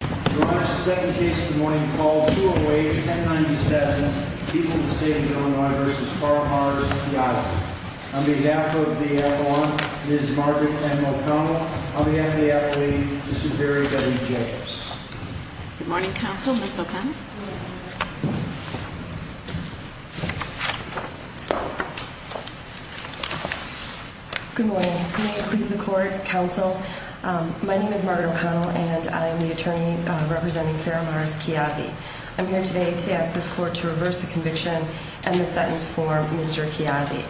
Your Honor, the second case of the morning called 208-1097, People in the State of Illinois v. Farrar v. Kiasi. On behalf of the appellant, Ms. Margaret M. O'Connell, on behalf of the appellee, the Superior Justice Judges. Good morning, Counsel. Ms. O'Connell. Good morning. May it please the Court, Counsel, my name is Margaret O'Connell and I am the attorney representing Farrar v. Kiasi. I'm here today to ask this Court to reverse the conviction and the sentence for Mr. Kiasi.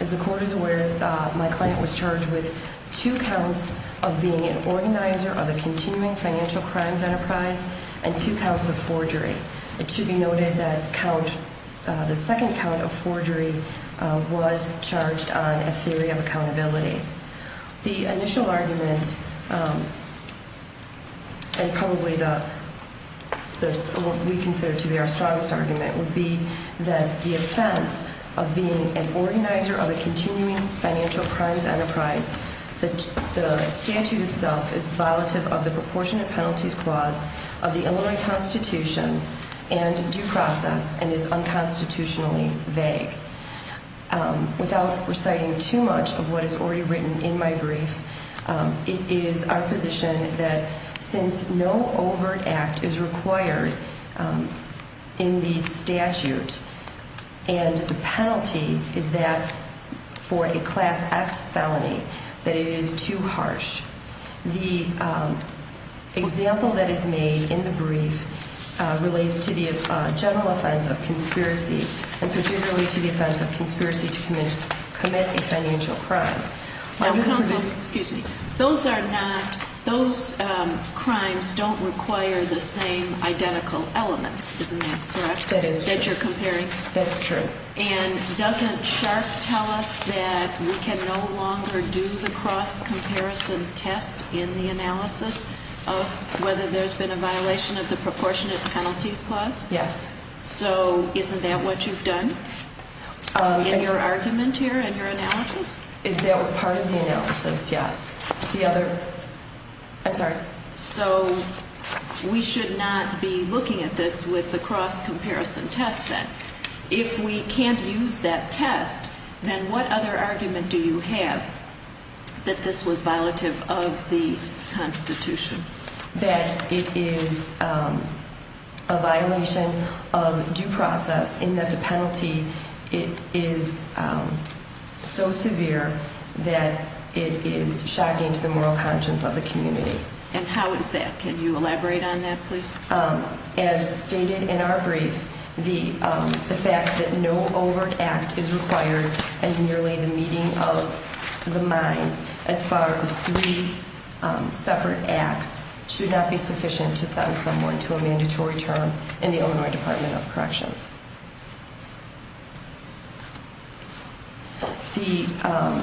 As the Court is aware, my client was charged with two counts of being an organizer of a continuing financial crimes enterprise and two counts of forgery. It should be noted that the second count of forgery was charged on a theory of accountability. The initial argument and probably what we consider to be our strongest argument would be that the offense of being an organizer of a continuing financial crimes enterprise, the statute itself is violative of the proportionate penalties clause of the Illinois Constitution and due process and is unconstitutionally vague. Without reciting too much of what is already written in my brief, it is our position that since no overt act is required in the statute and the penalty is that for a Class X felony, that it is too harsh. The example that is made in the brief relates to the general offense of conspiracy and particularly to the offense of conspiracy to commit a financial crime. Now, Counsel, those crimes don't require the same identical elements, isn't that correct? That is true. That you're comparing? That's true. And doesn't Sharp tell us that we can no longer do the cross comparison test in the analysis of whether there's been a violation of the proportionate penalties clause? Yes. So isn't that what you've done in your argument here, in your analysis? That was part of the analysis, yes. The other, I'm sorry. So we should not be looking at this with the cross comparison test then. If we can't use that test, then what other argument do you have that this was violative of the Constitution? That it is a violation of due process in that the penalty is so severe that it is shocking to the moral conscience of the community. And how is that? Can you elaborate on that, please? As stated in our brief, the fact that no overt act is required and merely the meeting of the minds as far as three separate acts should not be sufficient to send someone to a mandatory term in the Illinois Department of Corrections. The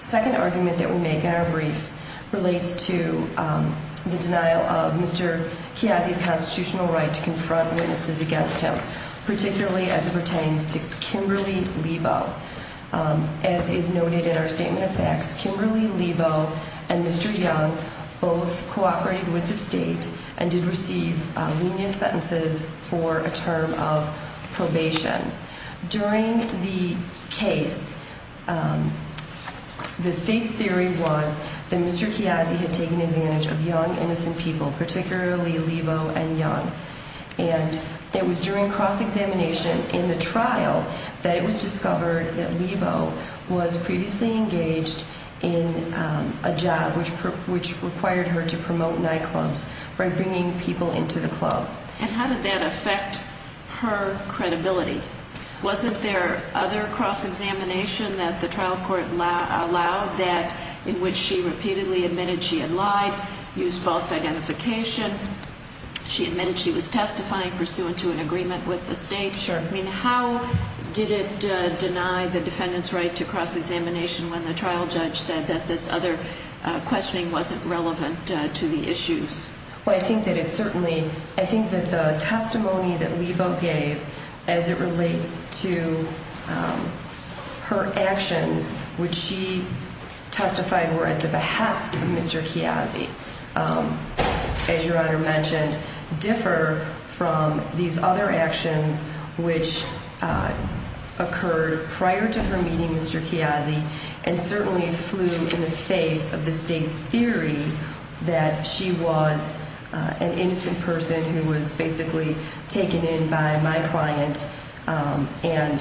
second argument that we make in our brief relates to the denial of Mr. Chiazzi's constitutional right to confront witnesses against him, particularly as it pertains to Kimberly Lebo. As is noted in our statement of facts, Kimberly Lebo and Mr. Young both cooperated with the state and did receive lenient sentences for a term of probation. During the case, the state's theory was that Mr. Chiazzi had taken advantage of young innocent people, particularly Lebo and Young. And it was during cross-examination in the trial that it was discovered that Lebo was previously engaged in a job which required her to promote nightclubs by bringing people into the club. And how did that affect her credibility? Wasn't there other cross-examination that the trial court allowed that in which she repeatedly admitted she had lied, used false identification, she admitted she was testifying pursuant to an agreement with the state? Sure. I mean, how did it deny the defendant's right to cross-examination when the trial judge said that this other questioning wasn't relevant to the issues? Well, I think that it certainly, I think that the testimony that Lebo gave as it relates to her actions, which she testified were at the behest of Mr. Chiazzi, as Your Honor mentioned, differ from these other actions which occurred prior to her meeting Mr. Chiazzi and certainly flew in the face of the state's theory that she was an innocent person who was basically taken in by my client and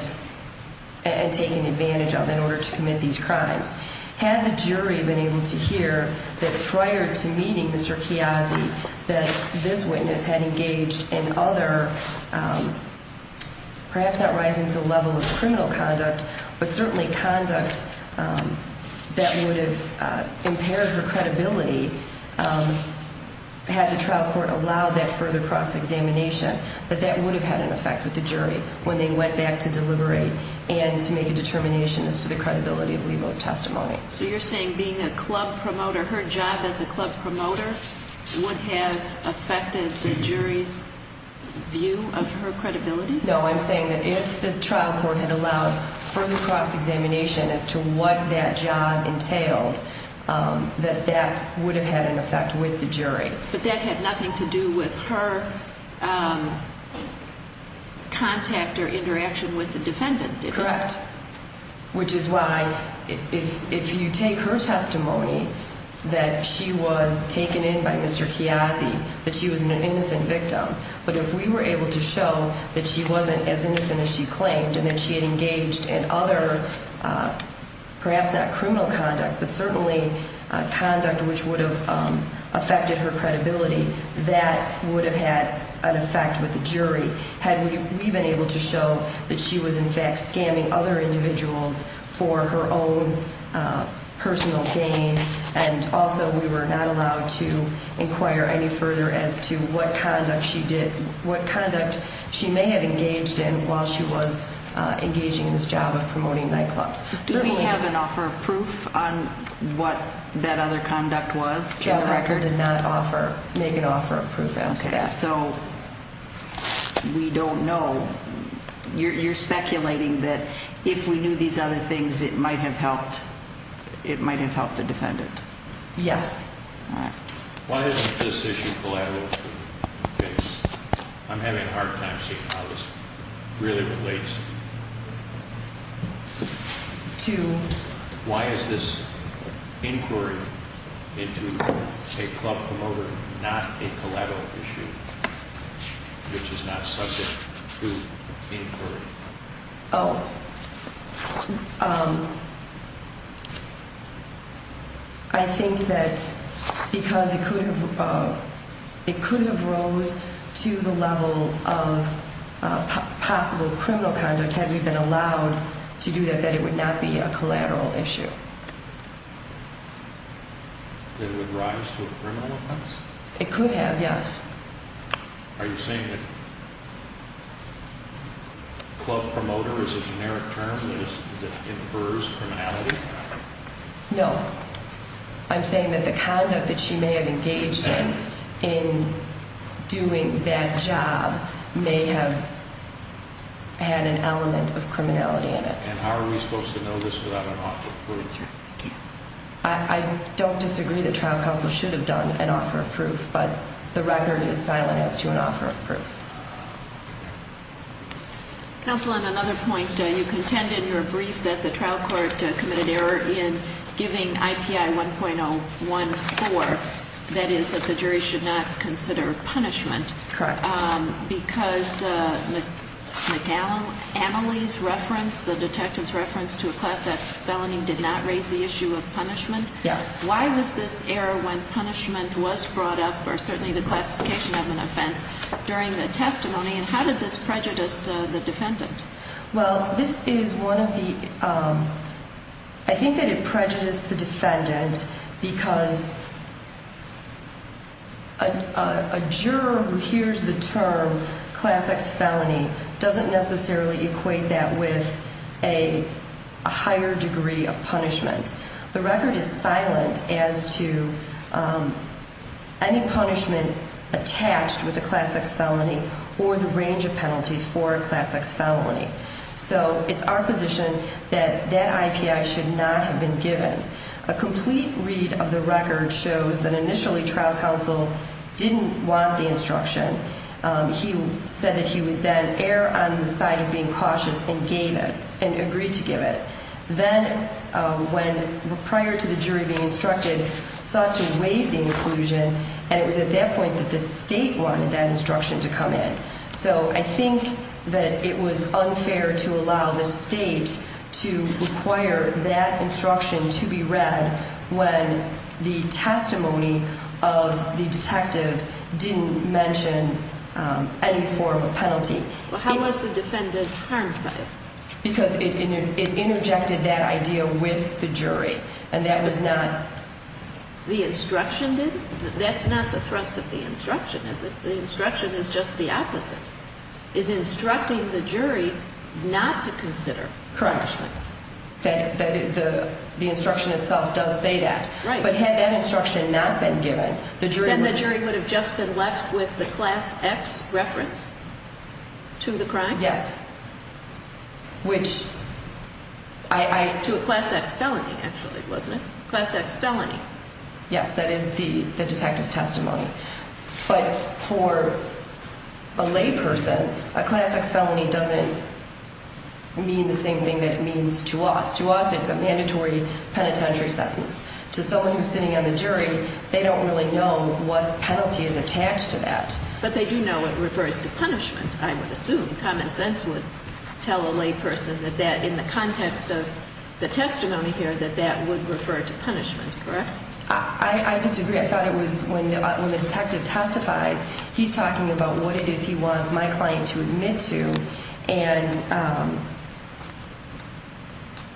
taken advantage of in order to commit these crimes. Had the jury been able to hear that prior to meeting Mr. Chiazzi that this witness had engaged in other, perhaps not rising to the level of criminal conduct, but certainly conduct that would have impaired her credibility had the trial court allowed that further cross-examination, that that would have had an effect with the jury when they went back to deliberate and to make a determination as to the credibility of Lebo's testimony. So you're saying being a club promoter, her job as a club promoter would have affected the jury's view of her credibility? No, I'm saying that if the trial court had allowed further cross-examination as to what that job entailed, that that would have had an effect with the jury. But that had nothing to do with her contact or interaction with the defendant, did it? Correct. Which is why if you take her testimony that she was taken in by Mr. Chiazzi, that she was an innocent victim, but if we were able to show that she wasn't as innocent as she claimed and that she had engaged in other, perhaps not criminal conduct, but certainly conduct which would have affected her credibility, that would have had an effect with the jury. Had we been able to show that she was in fact scamming other individuals for her own personal gain and also we were not allowed to inquire any further as to what conduct she may have engaged in while she was engaging in this job of promoting nightclubs. Did we have an offer of proof on what that other conduct was? The record did not make an offer of proof as to that. So we don't know. You're speculating that if we knew these other things, it might have helped. It might have helped the defendant. Yes. All right. Why is this issue collateral? I'm having a hard time seeing how this really relates to. Why is this inquiry into a club promoter not a collateral issue, which is not subject to inquiry? Oh, I think that because it could have. It could have rose to the level of possible criminal conduct had we been allowed to do that, that it would not be a collateral issue. It would rise to a criminal. It could have. Yes. Are you saying that club promoter is a generic term that infers criminality? No. I'm saying that the conduct that she may have engaged in in doing that job may have had an element of criminality in it. And how are we supposed to know this without an offer of proof? I don't disagree that trial counsel should have done an offer of proof, but the record is silent as to an offer of proof. Counsel, on another point, you contended in your brief that the trial court committed error in giving IPI 1.014. That is that the jury should not consider punishment. Correct. Because McAnally's reference, the detective's reference to a Class X felony did not raise the issue of punishment. Yes. Why was this error when punishment was brought up or certainly the classification of an offense during the testimony? And how did this prejudice the defendant? Well, this is one of the – I think that it prejudiced the defendant because a juror who hears the term Class X felony doesn't necessarily equate that with a higher degree of punishment. The record is silent as to any punishment attached with a Class X felony or the range of penalties for a Class X felony. So it's our position that that IPI should not have been given. A complete read of the record shows that initially trial counsel didn't want the instruction. He said that he would then err on the side of being cautious and gave it, and agreed to give it. Then when – prior to the jury being instructed, sought to waive the inclusion, and it was at that point that the state wanted that instruction to come in. So I think that it was unfair to allow the state to require that instruction to be read when the testimony of the detective didn't mention any form of penalty. Well, how was the defendant harmed by it? Because it interjected that idea with the jury, and that was not – The instruction didn't? That's not the thrust of the instruction, is it? The instruction is just the opposite. It's instructing the jury not to consider punishment. Correct. The instruction itself does say that. Right. But had that instruction not been given, the jury would – Then the jury would have just been left with the Class X reference to the crime? Yes, which I – To a Class X felony, actually, wasn't it? Class X felony. Yes, that is the detective's testimony. But for a layperson, a Class X felony doesn't mean the same thing that it means to us. To us, it's a mandatory penitentiary sentence. To someone who's sitting on the jury, they don't really know what penalty is attached to that. But they do know it refers to punishment, I would assume. Common sense would tell a layperson that that, in the context of the testimony here, that that would refer to punishment, correct? I disagree. I thought it was when the detective testifies, he's talking about what it is he wants my client to admit to, and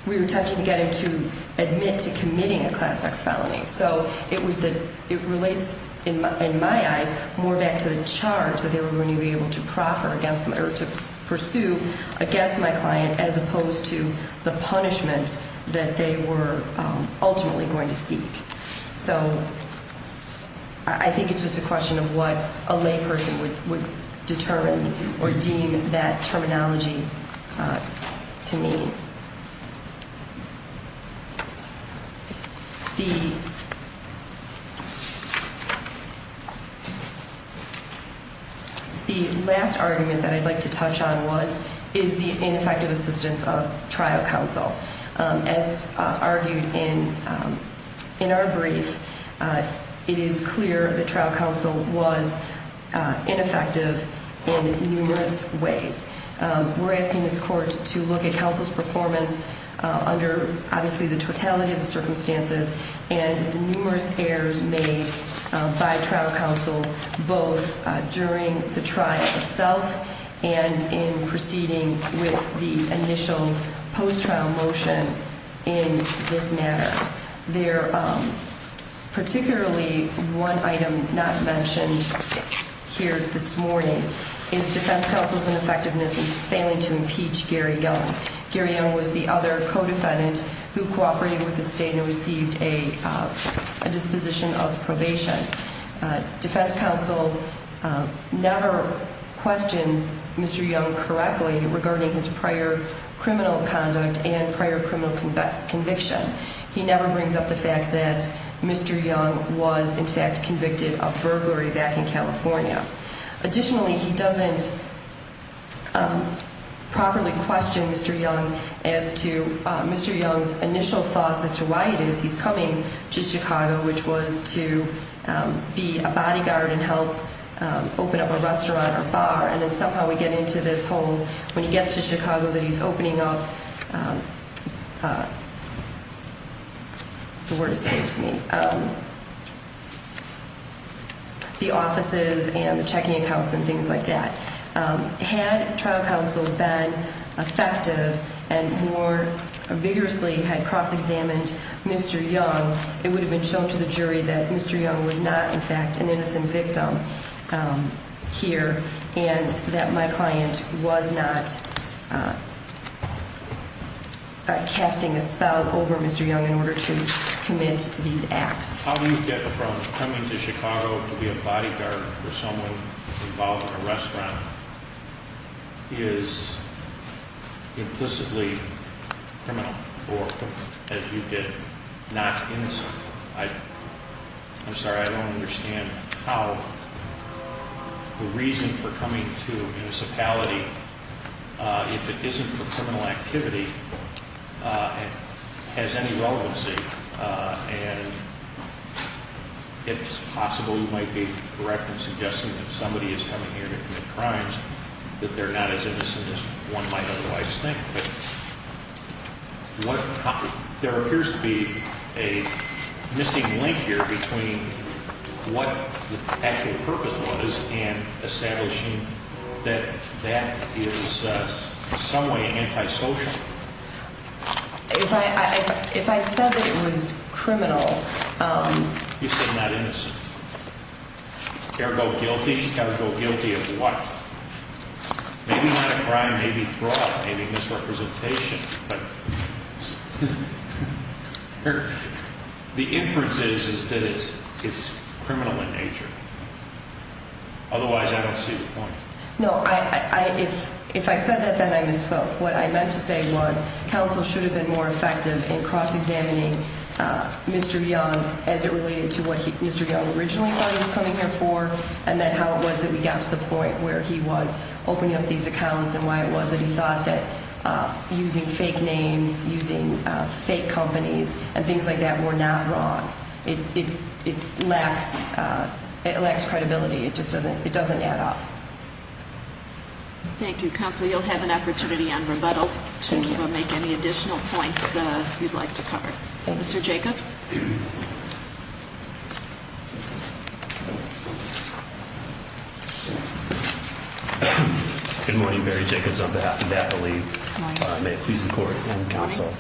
we were touching to get him to admit to committing a Class X felony. So it was the – it relates, in my eyes, more back to the charge that they were going to be able to proffer against – or to pursue against my client as opposed to the punishment that they were ultimately going to seek. So I think it's just a question of what a layperson would determine or deem that terminology to mean. The last argument that I'd like to touch on is the ineffective assistance of trial counsel. As argued in our brief, it is clear that trial counsel was ineffective in numerous ways. We're asking this Court to look at counsel's performance under, obviously, the totality of the circumstances and the numerous errors made by trial counsel both during the trial itself and in proceeding with the initial post-trial motion in this matter. Particularly one item not mentioned here this morning is defense counsel's ineffectiveness in failing to impeach Gary Young. Gary Young was the other co-defendant who cooperated with the state and received a disposition of probation. Defense counsel never questions Mr. Young correctly regarding his prior criminal conduct and prior criminal conviction. He never brings up the fact that Mr. Young was, in fact, convicted of burglary back in California. Additionally, he doesn't properly question Mr. Young as to Mr. Young's initial thoughts as to why it is he's coming to Chicago, which was to be a bodyguard and help open up a restaurant or bar. And then somehow we get into this whole, when he gets to Chicago that he's opening up the offices and the checking accounts and things like that. Had trial counsel been effective and more vigorously had cross-examined Mr. Young, it would have been shown to the jury that Mr. Young was not, in fact, an innocent victim here and that my client was not casting a spell over Mr. Young in order to commit these acts. How do you get from coming to Chicago to be a bodyguard for someone involved in a restaurant? Is implicitly criminal or, as you did, not innocent? I'm sorry, I don't understand how the reason for coming to a municipality, if it isn't for criminal activity, has any relevancy. And it's possible you might be correct in suggesting that somebody is coming here to commit crimes, that they're not as innocent as one might otherwise think. But there appears to be a missing link here between what the actual purpose was and establishing that that is in some way antisocial. If I said that it was criminal... You said not innocent. Ergo guilty? Ergo guilty of what? Maybe not a crime, maybe fraud, maybe misrepresentation. The inference is that it's criminal in nature. Otherwise, I don't see the point. No, if I said that, then I misspoke. What I meant to say was counsel should have been more effective in cross-examining Mr. Young as it related to what Mr. Young originally thought he was coming here for and then how it was that we got to the point where he was opening up these accounts and why it was that he thought that using fake names, using fake companies, and things like that were not wrong. It lacks credibility. It just doesn't add up. Thank you, counsel. You'll have an opportunity on rebuttal to make any additional points you'd like to cover. Mr. Jacobs? Good morning, Mary Jacobs, on behalf of DAPA League. May it please the Court and counsel.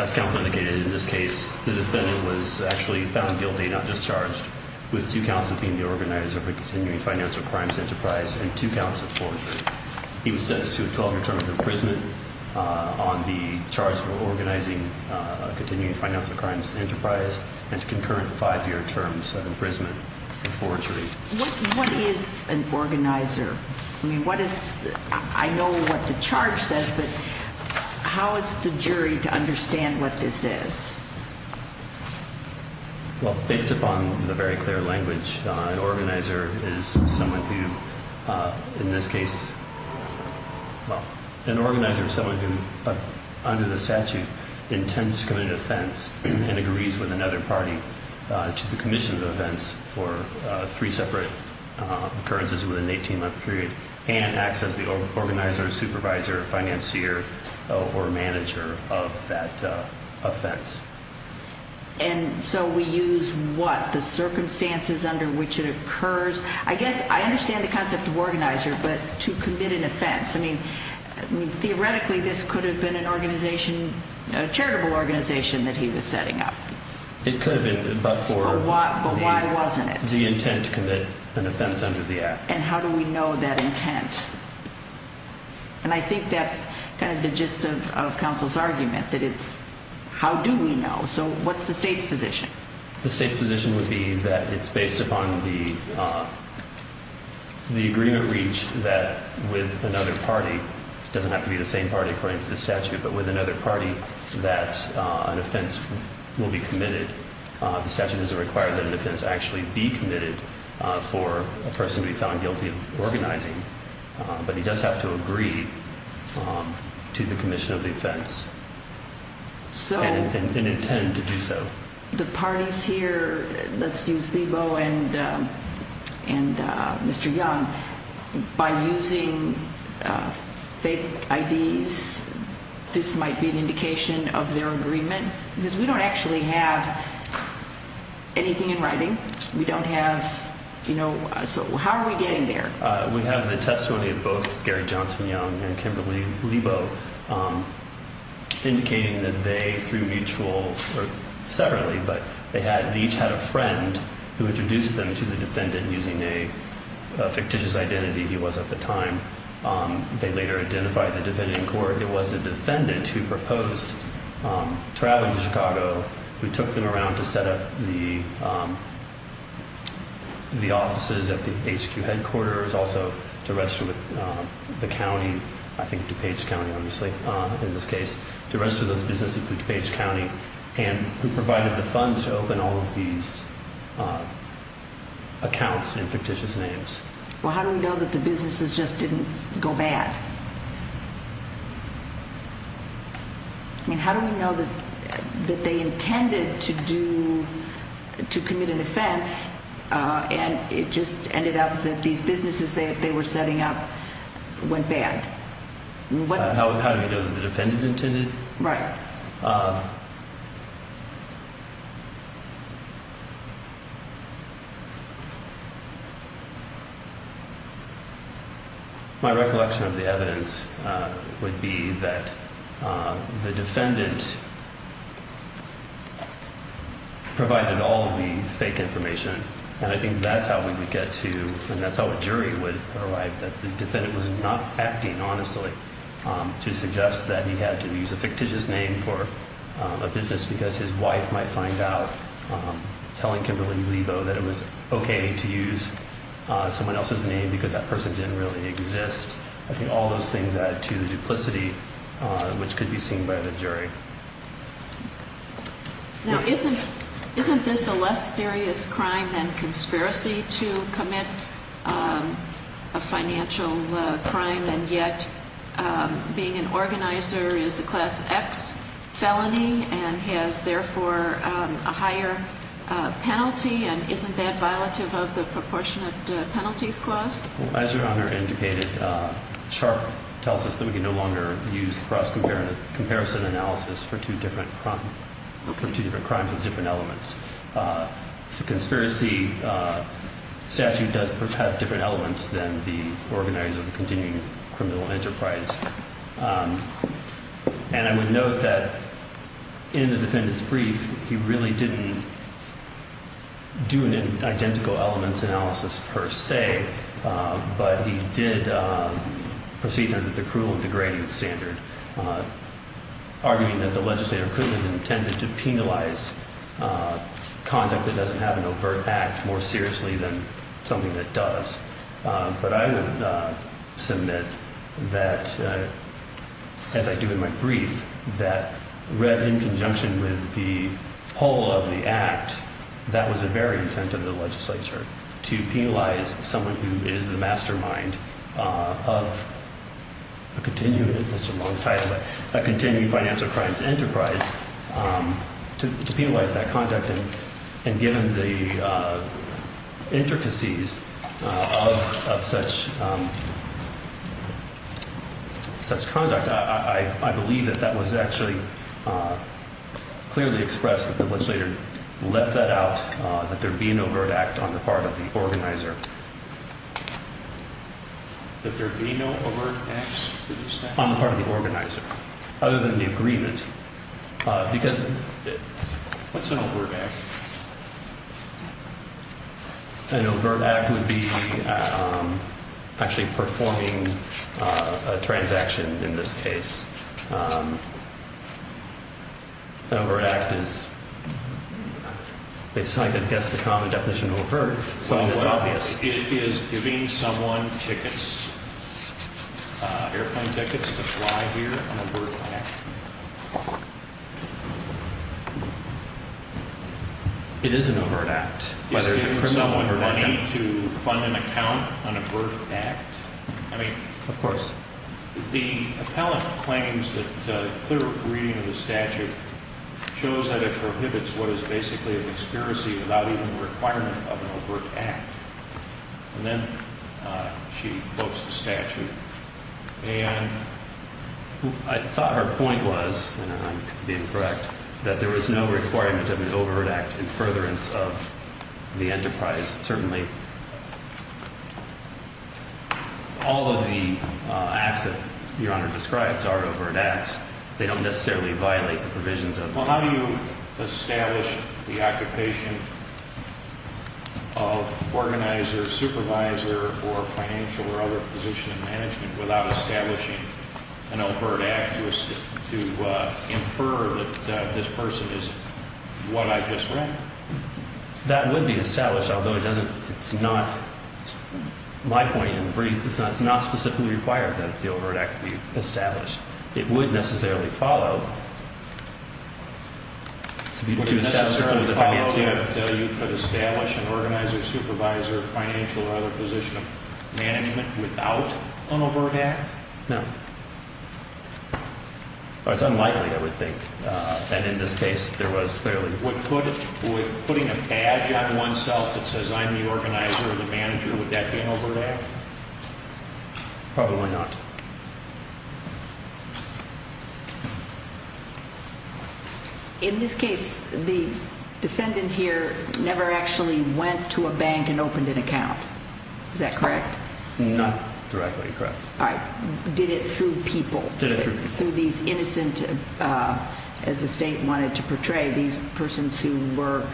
As counsel indicated, in this case, the defendant was actually found guilty, not discharged, with two counts of being the organizer of a continuing financial crimes enterprise and two counts of forgery. He was sentenced to a 12-year term of imprisonment on the charge of organizing a financial crimes enterprise. What is an organizer? I know what the charge says, but how is the jury to understand what this is? Based upon the very clear language, an organizer is someone who, in this case, well, an organizer is someone who, under the statute, intends to commit an offense and agrees with another party to the commission of the offense for three separate occurrences within an 18-month period and acts as the organizer, supervisor, financier, or manager of that offense. And so we use what? The circumstances under which it occurs? I guess I understand the concept of organizer, but to commit an offense? I mean, theoretically, this could have been an organization, a charitable organization that he was setting up. It could have been, but for the intent to commit an offense under the act. And how do we know that intent? And I think that's kind of the gist of counsel's argument, that it's how do we know? So what's the state's position? The state's position would be that it's based upon the agreement reached that with another party, it doesn't have to be the same party according to the statute, but with another party that an offense will be committed. The statute doesn't require that an offense actually be committed for a person to be found guilty of organizing, but he does have to agree to the commission of the offense. And intend to do so. The parties here, let's use Lebo and Mr. Young, by using fake IDs, this might be an indication of their agreement? Because we don't actually have anything in writing, we don't have, you know, so how are we getting there? We have the testimony of both Gary Johnson Young and Kimberly Lebo, indicating that they, through mutual, or separately, but they each had a friend who introduced them to the defendant using a fictitious identity he was at the time. They later identified the defendant in court, it was the defendant who proposed traveling to Chicago, who took them around to set up the offices at the HQ headquarters, also to register with the county, I think DuPage County obviously in this case, to register those businesses with DuPage County, and who provided the funds to open all of these accounts in fictitious names. Well how do we know that the businesses just didn't go bad? I mean, how do we know that they intended to do, to commit an offense, and it just ended up that these businesses they were setting up went bad? How do we know that the defendant intended? Right. My recollection of the evidence would be that the defendant provided all of the fake information, and I think that's how we would get to, and that's how a jury would arrive, that the defendant was not acting honestly to suggest that he had to use a fictitious name for a business because his wife might find out telling Kimberly Lebo that it was okay to use someone else's name because that person didn't really exist. I think all those things add to the duplicity which could be seen by the jury. Now isn't this a less serious crime than conspiracy to commit a financial crime, and yet being an organizer is a class X felony and has therefore a higher penalty, and isn't that violative of the proportionate penalties clause? As Your Honor indicated, Sharpe tells us that we can no longer use cross-comparison analysis for two different crimes with different elements. The conspiracy statute does have different elements than the organizer of the continuing criminal enterprise, and I would note that in the defendant's brief he really didn't do an identical elements analysis per se, but he did proceed under the cruel and degrading standard, arguing that the legislator couldn't have intended to penalize conduct that doesn't have an overt act more seriously than something that does. But I would submit that, as I do in my brief, that read in conjunction with the whole of the act, that was a very intent of the legislature to penalize someone who is the mastermind of a continuing financial crimes enterprise to penalize that conduct, and given the intricacies of such conduct, I believe that that was actually clearly expressed that the legislator left that out, that there be an overt act on the part of the organizer. That there be no overt acts? On the part of the organizer, other than the agreement, because... What's an overt act? An overt act would be actually performing a transaction in this case. An overt act is, it's hard to guess the common definition of overt, something that's obvious. It is giving someone tickets, airplane tickets to fly here, an overt act. It is an overt act. It's giving someone money to fund an account, an overt act? I mean... Of course. The appellant claims that a clear reading of the statute shows that it prohibits what is basically an expiracy without even the requirement of an overt act. And then she quotes the statute. And I thought her point was, and I'm being correct, that there was no requirement of an overt act in furtherance of the enterprise. Certainly, all of the acts that Your Honor describes are overt acts. They don't necessarily violate the provisions of... Well, how do you establish the occupation of organizer, supervisor, or financial or other position in management without establishing an overt act to infer that this person is what I just read? That would be established, although it doesn't, it's not... My point in brief is that it's not specifically required that the overt act be established. It would necessarily follow... Would it necessarily follow that you could establish an organizer, supervisor, financial or other position in management without an overt act? No. It's unlikely, I would think, that in this case there was fairly... Would putting a badge on oneself that says I'm the organizer or the manager, would that be an overt act? Probably not. Okay. In this case, the defendant here never actually went to a bank and opened an account. Is that correct? Not directly correct. All right. Did it through people? Did it through people. Through these innocent, as the State wanted to portray, these persons who were...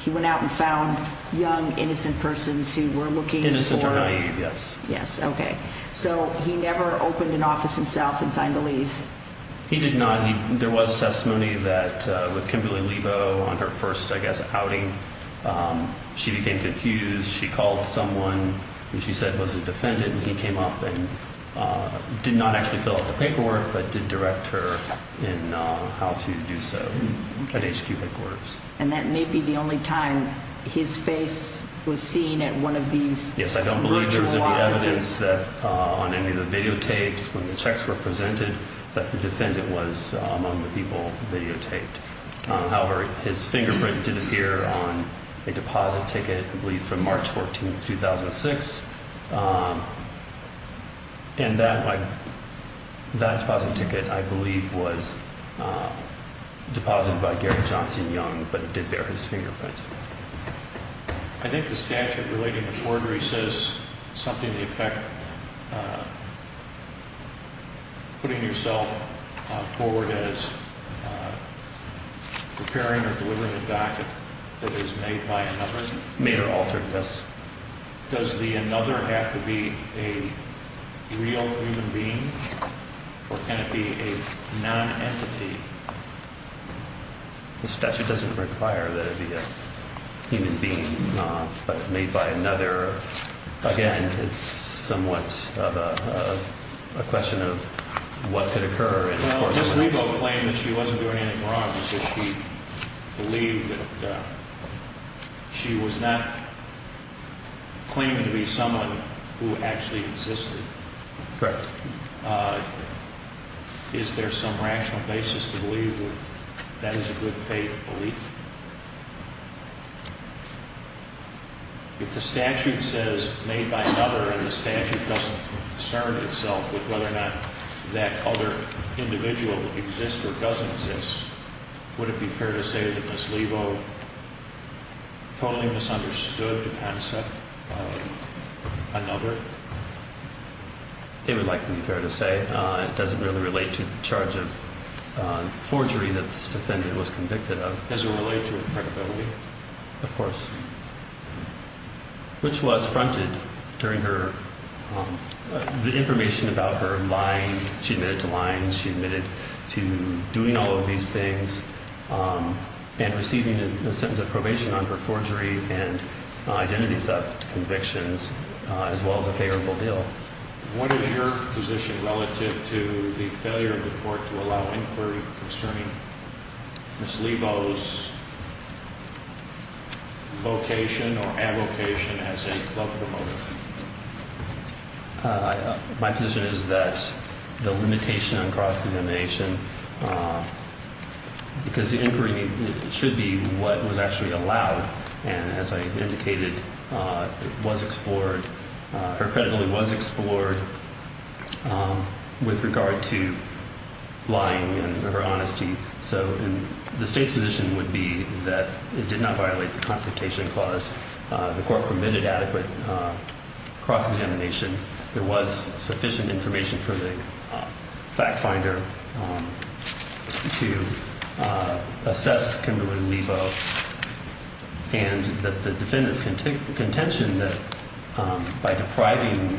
He went out and found young, innocent persons who were looking for... Innocent or naive, yes. Yes, okay. So he never opened an office himself and signed a lease? He did not. There was testimony that with Kimberly Lebo on her first, I guess, outing, she became confused. She called someone who she said was a defendant, and he came up and did not actually fill out the paperwork, but did direct her in how to do so at HQ headquarters. And that may be the only time his face was seen at one of these... Yes, I don't believe there was any evidence that on any of the videotapes when the checks were presented that the defendant was among the people videotaped. However, his fingerprint did appear on a deposit ticket, I believe, from March 14, 2006. And that deposit ticket, I believe, was deposited by Gary Johnson Young, but it did bear his fingerprint. I think the statute relating to forgery says something to the effect of putting yourself forward as preparing or delivering a docket that is made by another. Made or altered, yes. Does the another have to be a real human being, or can it be a non-entity? The statute doesn't require that it be a human being, but made by another. Again, it's somewhat of a question of what could occur. Well, does Lebo claim that she wasn't doing anything wrong? Does she believe that she was not claiming to be someone who actually existed? Correct. Is there some rational basis to believe that that is a good faith belief? If the statute says made by another and the statute doesn't concern itself with whether or not that other individual exists or doesn't exist, would it be fair to say that Ms. Lebo totally misunderstood the concept of another? It would likely be fair to say. It doesn't really relate to the charge of forgery that this defendant was convicted of. Does it relate to her credibility? Of course, which was fronted during her information about her lying. She admitted to lying. She admitted to doing all of these things and receiving a sentence of probation on her forgery and identity theft convictions, as well as a favorable deal. What is your position relative to the failure of the court to allow inquiry concerning Ms. Lebo's vocation or advocation as a club promoter? My position is that the limitation on cross-examination because the inquiry should be what was actually allowed. And as I indicated, it was explored. Her credibility was explored with regard to lying and her honesty. So the state's position would be that it did not violate the confrontation clause. The court permitted adequate cross-examination. There was sufficient information from the fact finder to assess Kimberly Lebo. And the defendant's contention that by depriving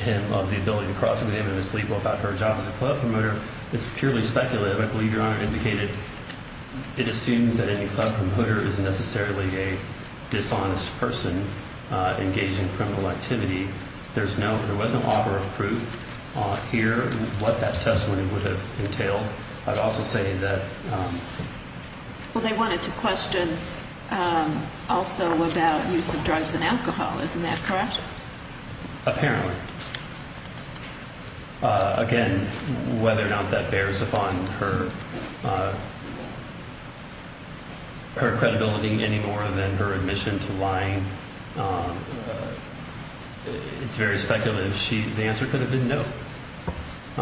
him of the ability to cross-examine Ms. Lebo about her job as a club promoter is purely speculative. I believe Your Honor indicated it assumes that any club promoter is necessarily a dishonest person engaged in criminal activity. There was no offer of proof here what that testimony would have entailed. I'd also say that. Well, they wanted to question also about use of drugs and alcohol. Isn't that correct? Apparently. Again, whether or not that bears upon her credibility any more than her admission to lying, it's very speculative. The answer could have been no.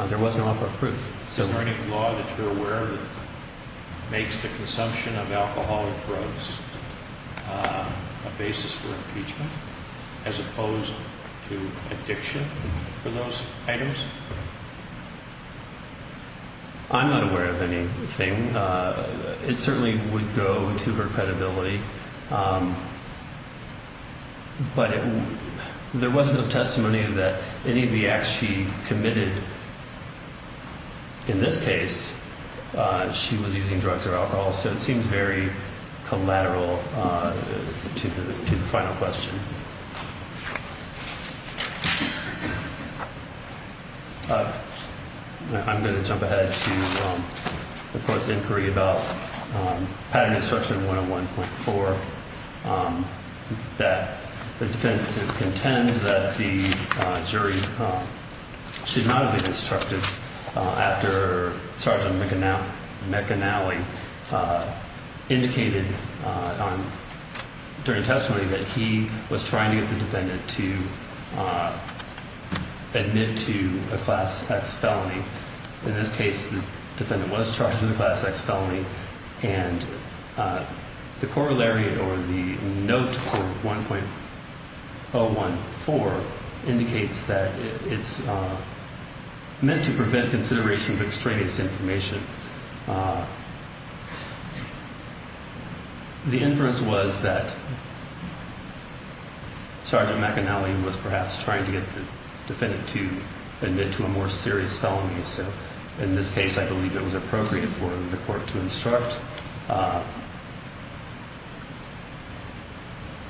There was no offer of proof. Is there any law that you're aware of that makes the consumption of alcohol and drugs a basis for impeachment as opposed to addiction for those items? I'm not aware of anything. It certainly would go to her credibility. But there was no testimony that any of the acts she committed, in this case, she was using drugs or alcohol. So it seems very collateral to the final question. I'm going to jump ahead to the court's inquiry about pattern instruction 101.4 that the defendant contends that the jury should not have been instructed after Sergeant McAnally indicated during testimony that he was trying to get the defendant to admit to a Class X felony. In this case, the defendant was charged with a Class X felony. And the corollary or the note for 1.014 indicates that it's meant to prevent consideration of extraneous information. The inference was that Sergeant McAnally was perhaps trying to get the defendant to admit to a more serious felony. So in this case, I believe it was appropriate for the court to instruct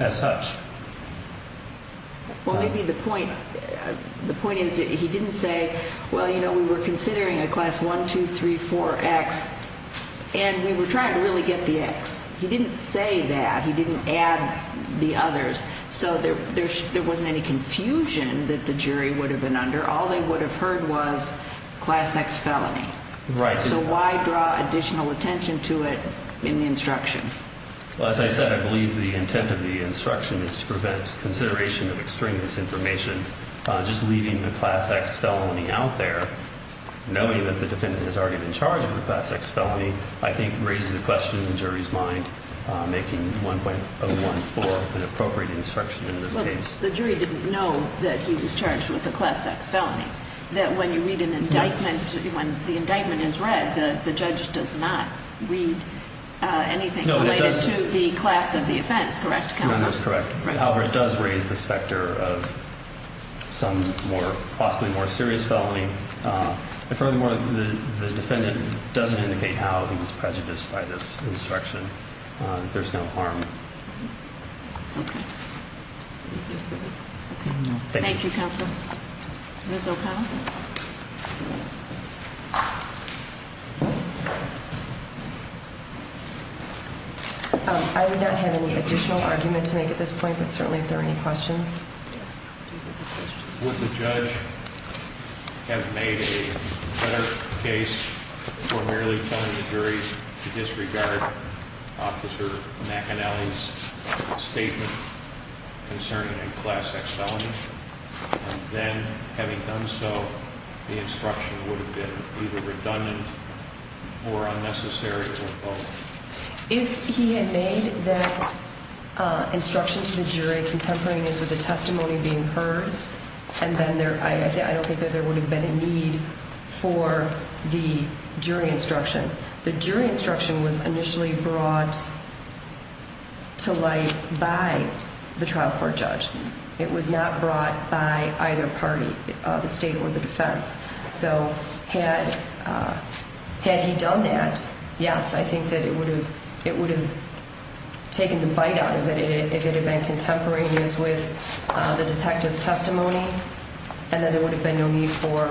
as such. Well, maybe the point is that he didn't say, well, you know, we were considering a Class 1234X, and we were trying to really get the X. He didn't say that. He didn't add the others. So there wasn't any confusion that the jury would have been under. All they would have heard was Class X felony. Right. So why draw additional attention to it in the instruction? Well, as I said, I believe the intent of the instruction is to prevent consideration of extraneous information. Just leaving the Class X felony out there, knowing that the defendant has already been charged with a Class X felony, I think raises the question in the jury's mind, making 1.014 an appropriate instruction in this case. The jury didn't know that he was charged with a Class X felony, that when you read an indictment, when the indictment is read, the judge does not read anything related to the class of the offense, correct, counsel? No, that's correct. However, it does raise the specter of some possibly more serious felony. And furthermore, the defendant doesn't indicate how he was prejudiced by this instruction. There's no harm. Okay. Thank you, counsel. Ms. O'Connell? I would not have any additional argument to make at this point, but certainly if there are any questions. Would the judge have made a better case for merely telling the jury to disregard Officer McAnally's statement concerning a Class X felony? And then, having done so, the instruction would have been either redundant or unnecessary, or both? If he had made that instruction to the jury, contemporaneous with the testimony being heard, and then I don't think that there would have been a need for the jury instruction. The jury instruction was initially brought to light by the trial court judge. It was not brought by either party, the state or the defense. So had he done that, yes, I think that it would have taken the bite out of it if it had been contemporaneous with the detective's testimony, and then there would have been no need for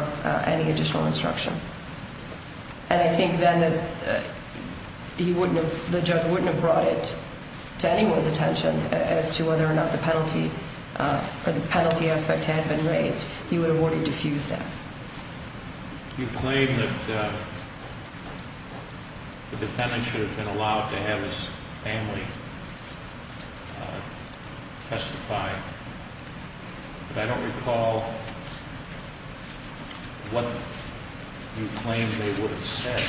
any additional instruction. And I think then that the judge wouldn't have brought it to anyone's attention as to whether or not the penalty aspect had been raised. He would have ordered to fuse that. You claim that the defendant should have been allowed to have his family testify, but I don't recall what you claim they would have said.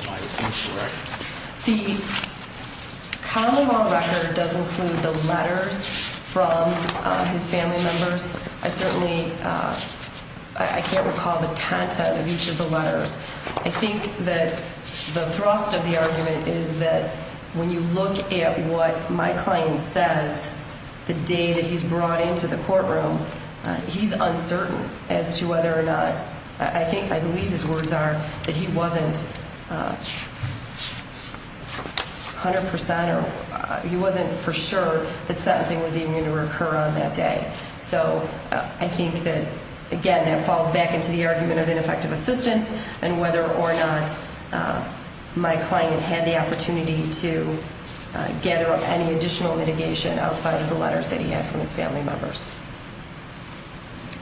Am I incorrect? The common law record does include the letters from his family members. I certainly can't recall the content of each of the letters. I think that the thrust of the argument is that when you look at what my client says the day that he's brought into the courtroom, he's uncertain as to whether or not. I think, I believe his words are that he wasn't 100% or he wasn't for sure that sentencing was even going to occur on that day. So I think that, again, that falls back into the argument of ineffective assistance and whether or not my client had the opportunity to gather up any additional litigation outside of the letters that he had from his family members.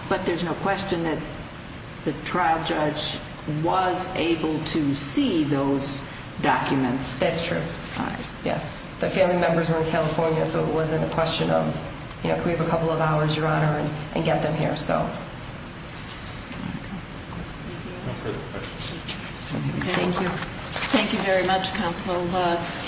But there's no question that the trial judge was able to see those documents. That's true. Yes. The family members were in California, so it wasn't a question of, you know, can we have a couple of hours, Your Honor, and get them here. So. Thank you. Thank you very much, Counsel.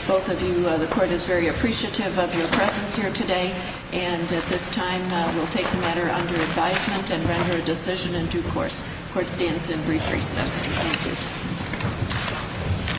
Both of you, the court is very appreciative of your presence here today. And at this time, we'll take the matter under advisement and render a decision in due course. Court stands in brief recess. Thank you.